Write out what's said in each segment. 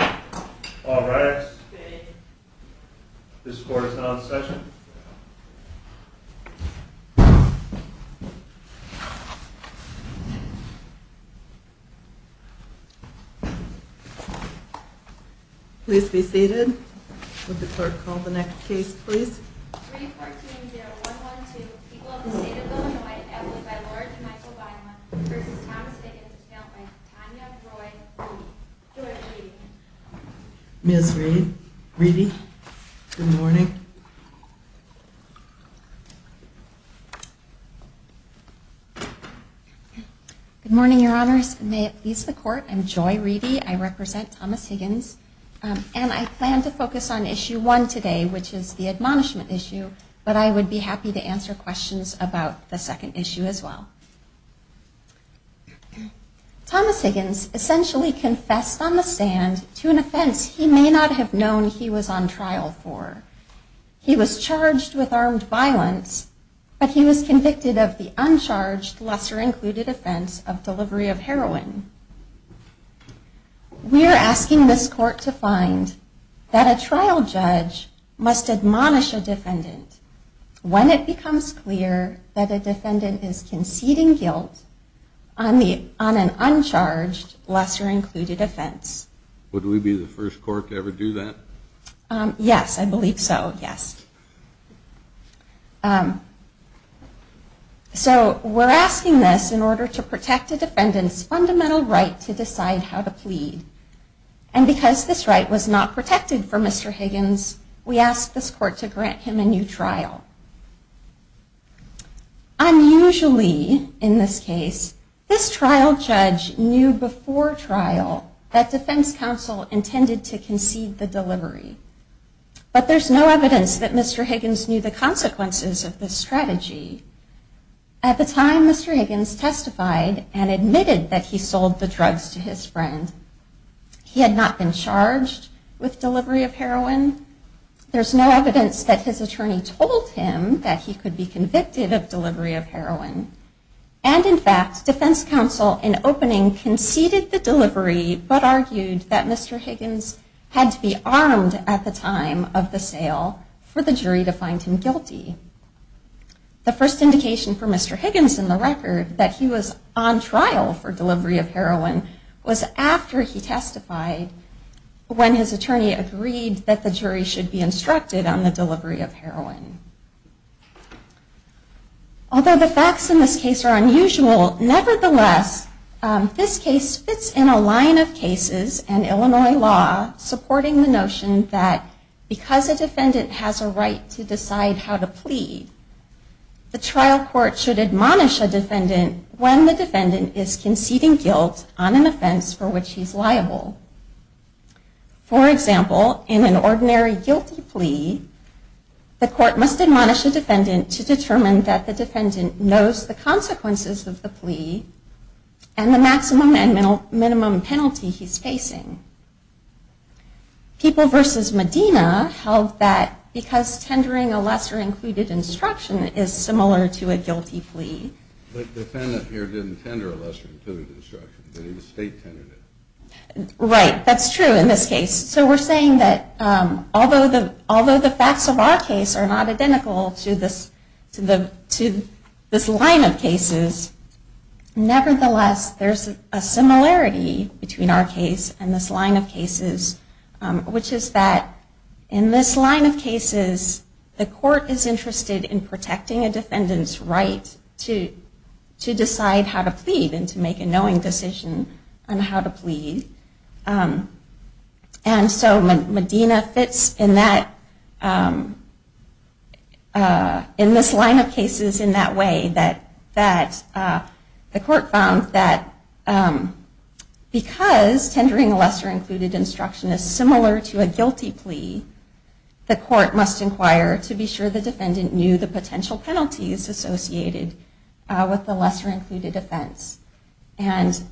All rise. This court is now in session. Please be seated. Would the court call the next case, please? 3-14-0-1-1-2 People of the State of Illinois at Law by Laura DeMichele Bynum v. Thomas Higgins, bailed by Tanya Roy Reedy. Joy Reedy. Ms. Reedy, good morning. Good morning, Your Honors. May it please the court, I'm Joy Reedy. I represent Thomas Higgins. And I plan to focus on issue one today, which is the admonishment issue, but I would be happy to answer questions about the second issue as well. Thomas Higgins essentially confessed on the stand to an offense he may not have known he was on trial for. He was charged with armed violence, but he was convicted of the uncharged, lesser-included offense of delivery of heroin. We are asking this court to find that a trial judge must admonish a defendant when it becomes clear that a defendant is conceding guilt on an uncharged, lesser-included offense. Would we be the first court to ever do that? Yes, I believe so, yes. So we're asking this in order to protect a defendant's fundamental right to decide how to plead. And because this right was not protected for Mr. Higgins, we ask this court to grant him a new trial. Unusually, in this case, this trial judge knew before trial that defense counsel intended to concede the delivery. But there's no evidence that Mr. Higgins knew the consequences of this strategy. At the time, Mr. Higgins testified and admitted that he sold the drugs to his friend. He had not been charged with delivery of heroin. There's no evidence that his attorney told him that he could be convicted of delivery of heroin. And in fact, defense counsel, in opening, conceded the delivery, but argued that Mr. Higgins had to be armed at the time of the sale for the jury to find him guilty. The first indication for Mr. Higgins in the record that he was on trial for delivery of heroin was after he testified, when his attorney agreed that the jury should be instructed on the delivery of heroin. Although the facts in this case are unusual, nevertheless, this case fits in a line of cases and Illinois law supporting the notion that because a defendant has a right to decide how to plead, the trial court should admonish a defendant when the defendant is conceding guilt on an offense for which he's liable. For example, in an ordinary guilty plea, the court must admonish a defendant to determine that the defendant knows the consequences of the plea and the maximum and minimum penalty he's facing. People v. Medina held that because tendering a lesser-included instruction is similar to a guilty plea. But the defendant here didn't tender a lesser-included instruction. Right, that's true in this case. So we're saying that although the facts of our case are not identical to this line of cases, nevertheless, there's a similarity between our case and the state's case. And that is that in this line of cases, the court is interested in protecting a defendant's right to decide how to plead and to make a knowing decision on how to plead. And so Medina fits in this line of cases in that way, that the court found that because tendering a lesser-included instruction is similar to a guilty plea, the court should admonish a defendant when the defendant is conceding guilt on an offense for which he's liable. And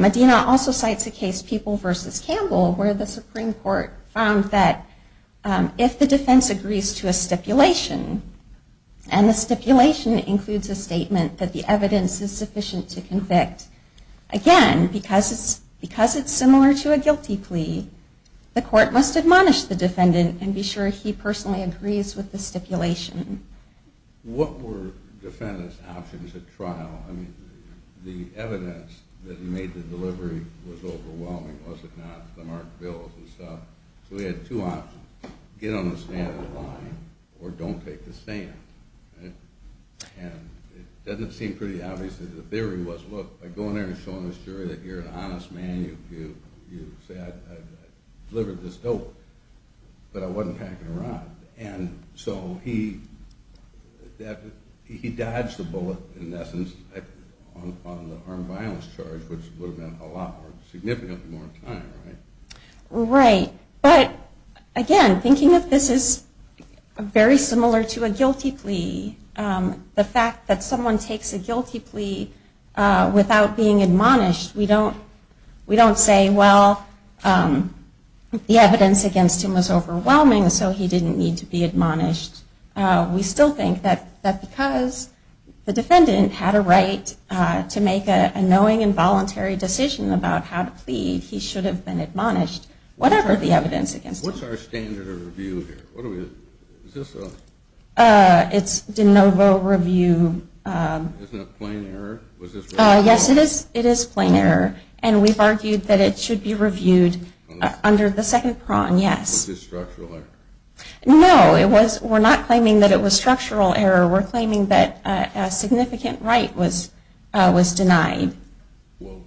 Medina also cites a case, People v. Campbell, where the Supreme Court found that if the defense agrees to a stipulation, and the stipulation includes a statement that the evidence is sufficient to convict, again, because it's similar to a guilty plea, the court should admonish a defendant when the defendant is conceding guilt on an offense for which he's liable. The court must admonish the defendant and be sure he personally agrees with the stipulation. What were defendant's options at trial? I mean, the evidence that made the delivery was overwhelming, was it not? The marked bills and stuff. So we had two options. Get on the stand and lie, or don't take the stand. And it doesn't seem pretty obvious that the theory was, look, by going there and showing the jury that you're an honest man, you say, I delivered this note, but I wasn't packing a rod. And so he dodged the bullet, in essence, on the armed violence charge, which would have meant a lot more, significantly more time, right? Right. But again, thinking of this as very similar to a guilty plea, the fact that someone takes a guilty plea without being admonished, we don't say, well, the evidence against him was overwhelming, so he didn't need to be admonished. We still think that because the defendant had a right to make a knowing and voluntary decision about how to plead, he should have been admonished, whatever the evidence against him. What's our standard of review here? It's de novo review. Isn't it plain error? Yes, it is. It is plain error. And we've argued that it should be reviewed under the second prong, yes. Was this structural error? No, we're not claiming that it was structural error. We're claiming that a significant right was denied. Well,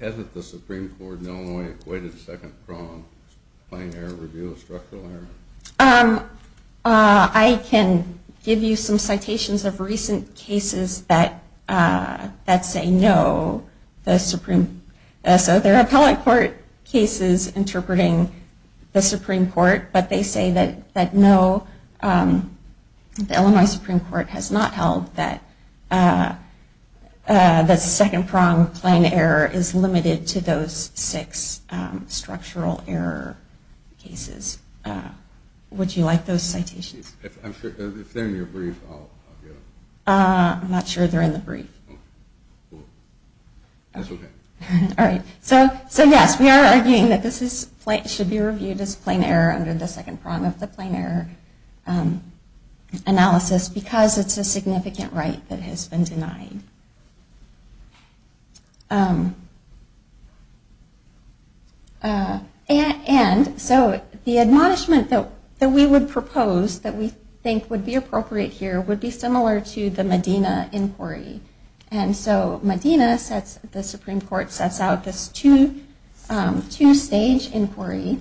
hasn't the Supreme Court in Illinois equated the second prong as plain error review of structural error? I can give you some citations of recent cases that say no. So there are appellate court cases interpreting the Supreme Court, but they say that no, the Illinois Supreme Court has not held that the second prong of plain error is limited to those six structural error cases. Would you like those citations? If they're in your brief, I'll give them. I'm not sure they're in the brief. That's okay. All right. So yes, we are arguing that this should be reviewed as plain error under the second prong of the plain error analysis because it's a significant right that has been denied. And so the admonishment that we would propose that we think would be appropriate here would be similar to the Medina inquiry. And so Medina, the Supreme Court, sets out this two-stage inquiry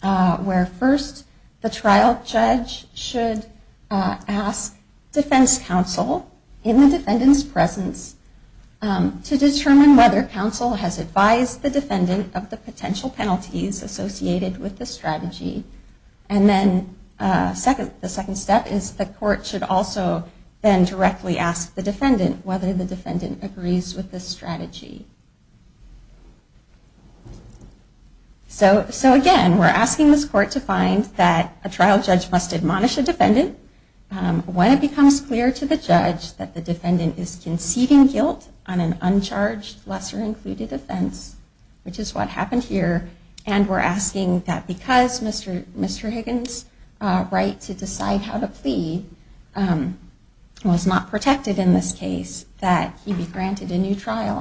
where first the trial judge should ask defense counsel in the defendant's presence to determine whether counsel has advised the defendant of the potential penalties associated with the strategy. And then the second step is the court should also then directly ask the defendant whether the defendant agrees with the strategy. So again, we're asking this court to find that a trial judge must admonish a defendant when it becomes clear to the judge that the defendant is conceding guilt on an uncharged, lesser included offense, which is what happened here. And we're asking that because Mr. Higgins' right to decide how to plead was not protected in this case, that he be granted a new trial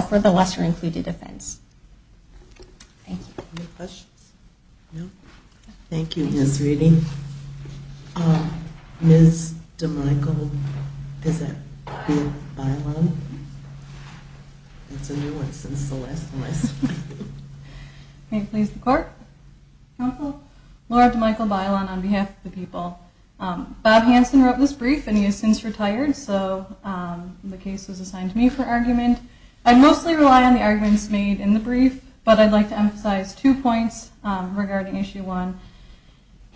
for the lesser included offense. Thank you. Any questions? No? Thank you, Ms. Reedy. Ms. DeMichel-Bailon? That's a new one since the last one. May it please the court? Counsel? Laura DeMichel-Bailon on behalf of the people. Bob Hanson wrote this brief and he has since retired, so the case was assigned to me for argument. I'd mostly rely on the arguments made in the brief, but I'd like to emphasize two points regarding issue one.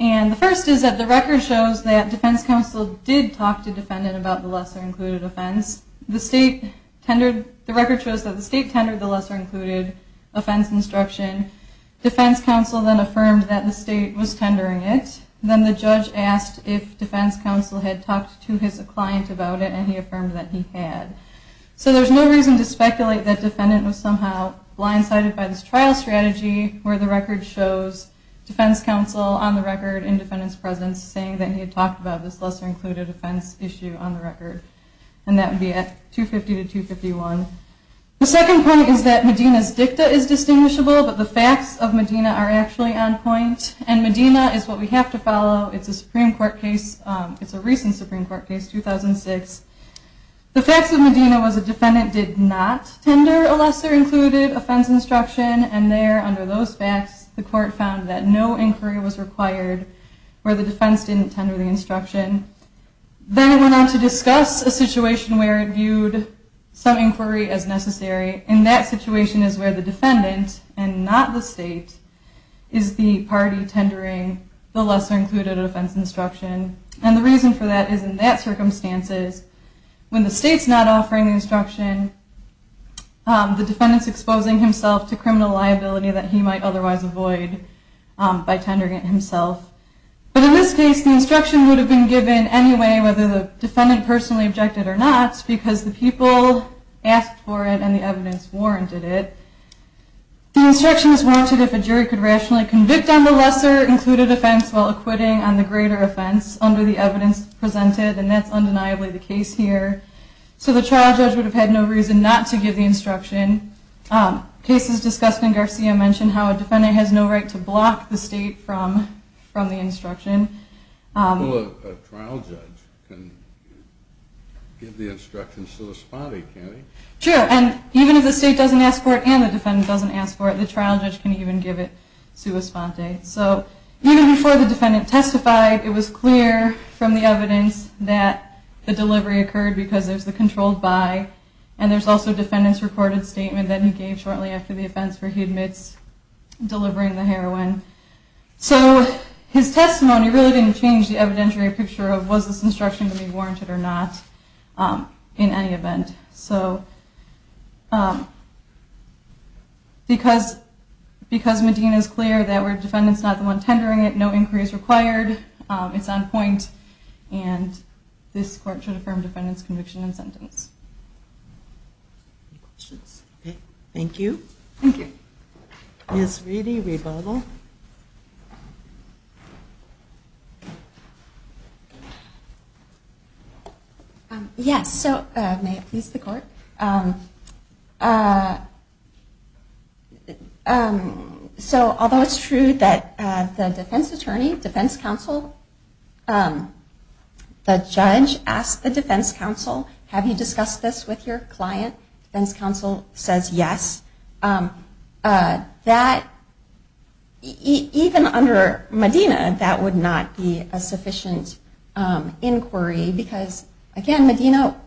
And the first is that the record shows that defense counsel did talk to defendant about the lesser included offense. The state tendered, the record shows that the state tendered the lesser included offense instruction. Defense counsel then affirmed that the state was tendering it. Then the judge asked if defense counsel had talked to his client about it and he affirmed that he had. So there's no reason to speculate that defendant was somehow blindsided by this trial strategy where the record shows defense counsel on the record in defendant's presence saying that he had talked about this lesser included offense issue on the record. And that would be at 250 to 251. The second point is that Medina's dicta is distinguishable, but the facts of Medina are actually on point. And Medina is what we have to follow. It's a Supreme Court case. It's a recent Supreme Court case, 2006. The facts of Medina was a defendant did not tender a lesser included offense instruction. And there, under those facts, the court found that no inquiry was required where the defense didn't tender the instruction. Then it went on to discuss a situation where it viewed some inquiry as necessary. And that situation is where the defendant, and not the state, is the party tendering the lesser included offense instruction. And the reason for that is in that circumstance is when the state's not offering the instruction, the defendant's exposing himself to criminal liability that he might otherwise avoid by tendering it himself. But in this case, the instruction would have been given anyway, whether the defendant personally objected or not, because the people asked for it and the evidence warranted it. The instruction is warranted if a jury could rationally convict on the lesser included offense while acquitting on the greater offense under the evidence presented. And that's undeniably the case here. So the trial judge would have had no reason not to give the instruction. Cases discussed in Garcia mention how a defendant has no right to block the state from the instruction. Well, a trial judge can give the instruction to the spotty, can't he? Sure. And even if the state doesn't ask for it and the defendant doesn't ask for it, the trial judge can even give it sua sponte. So even before the defendant testified, it was clear from the evidence that the delivery occurred because there's the controlled by. And there's also a defendant's recorded statement that he gave shortly after the offense where he admits delivering the heroin. So his testimony really didn't change the evidentiary picture of was this instruction to be warranted or not in any event. So because Medina is clear that we're defendants not the one tendering it, no inquiry is required, it's on point, and this court should affirm defendant's conviction and sentence. Any questions? Okay. Thank you. Thank you. Ms. Reedy, rebuttal. Rebuttal. Yes. So may it please the court. So although it's true that the defense attorney, defense counsel, the judge asked the defense counsel, have you discussed this with your client? Defense counsel says yes. That, even under Medina, that would not be a sufficient inquiry because, again, Medina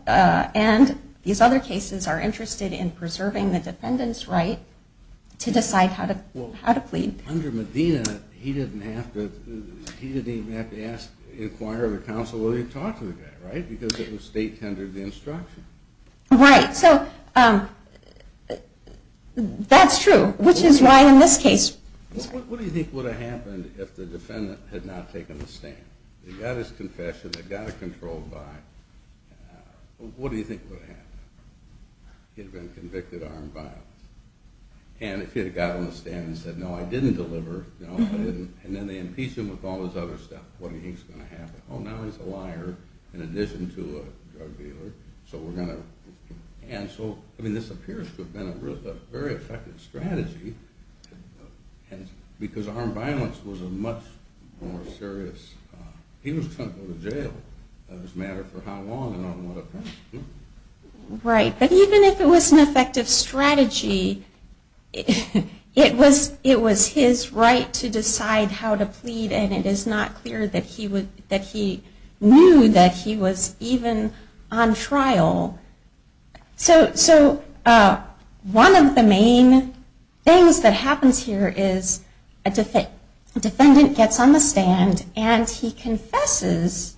and these other cases are interested in preserving the defendant's right to decide how to plead. Under Medina, he didn't even have to inquire with counsel whether he talked to the guy, right, because it was state-tendered instruction. Right. So that's true, which is why in this case. What do you think would have happened if the defendant had not taken the stand? They got his confession, they got it controlled by, what do you think would have happened? He'd have been convicted of armed violence. And if he had got on the stand and said, no, I didn't deliver, no, I didn't, and then they impeached him with all this other stuff, what do you think is going to happen? Oh, now he's a liar in addition to a drug dealer, so we're going to cancel. I mean, this appears to have been a very effective strategy because armed violence was a much more serious, he was going to go to jail, it doesn't matter for how long and on what offense. Right. But even if it was an effective strategy, it was his right to decide how to plead and it is not clear that he knew that he was even on trial. So one of the main things that happens here is a defendant gets on the stand and he confesses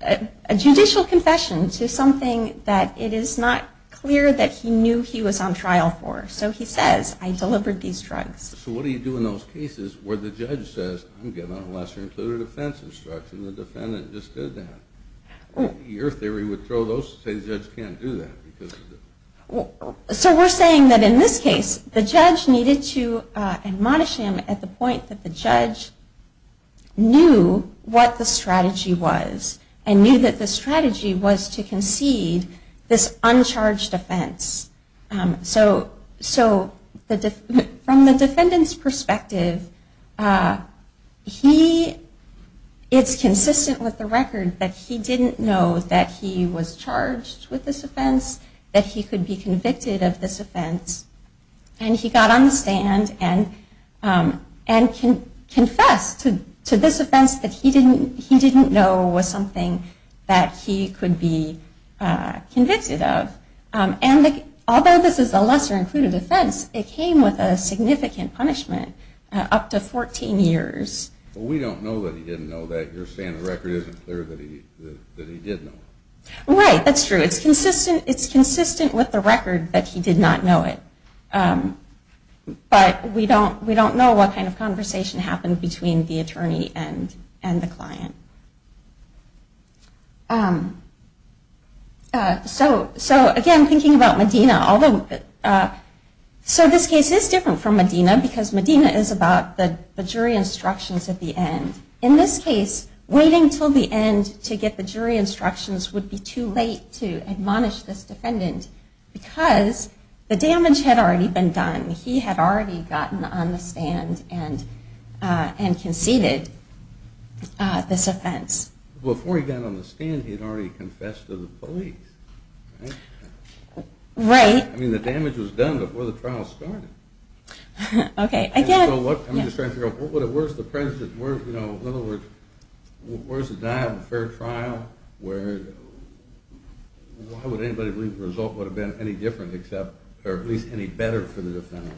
a judicial confession to something that it is not clear that he knew he was on trial for. So he says, I delivered these drugs. So what do you do in those cases where the judge says, I'm getting on a lesser included offense instruction, the defendant just did that? Your theory would throw those, say the judge can't do that. So we're saying that in this case, the judge needed to admonish him at the point that the judge knew what the strategy was and knew that the strategy was to concede this uncharged offense. So from the defendant's perspective, it's consistent with the record that he didn't know that he was charged with this offense, that he could be convicted of this offense, and he got on the stand and confessed to this offense that he didn't know was something that he could be convicted of. Although this is a lesser included offense, it came with a significant punishment, up to 14 years. Well, we don't know that he didn't know that. You're saying the record isn't clear that he did know. Right, that's true. It's consistent with the record that he did not know it. But we don't know what kind of conversation happened between the attorney and the client. So again, thinking about Medina, so this case is different from Medina, because Medina is about the jury instructions at the end. In this case, waiting until the end to get the jury instructions would be too late to admonish this defendant because the damage had already been done. He had already gotten on the stand and conceded this offense. Before he got on the stand, he had already confessed to the police. Right. I mean, the damage was done before the trial started. Okay. I'm just trying to figure out, where's the dial for a trial? Why would anybody believe the result would have been any different, or at least any better for the defendant?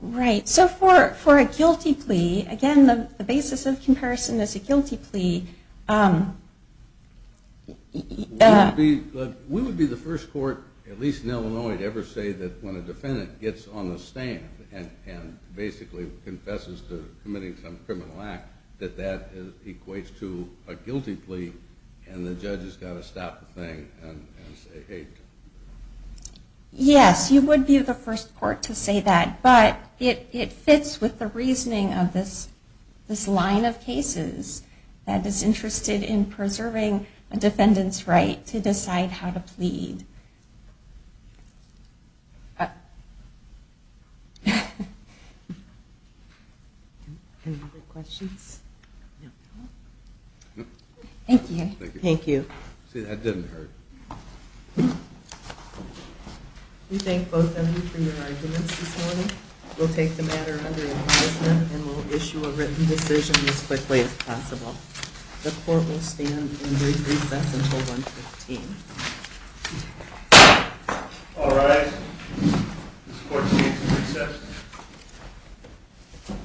Right. So for a guilty plea, again, the basis of comparison is a guilty plea. We would be the first court, at least in Illinois, to ever say that when a defendant gets on the stand and basically confesses to committing some criminal act, that that equates to a guilty plea, and the judge has got to stop the thing and say, hey. Yes, you would be the first court to say that, but it fits with the reasoning of this line of cases that is interested in preserving a defendant's right to decide how to plead. Thank you. Thank you. See, that didn't hurt. We thank both of you for your arguments this morning. We'll take the matter under advisement, and we'll issue a written decision as quickly as possible. The court will stand and recess until 1.15. All rise. This court sees the recess.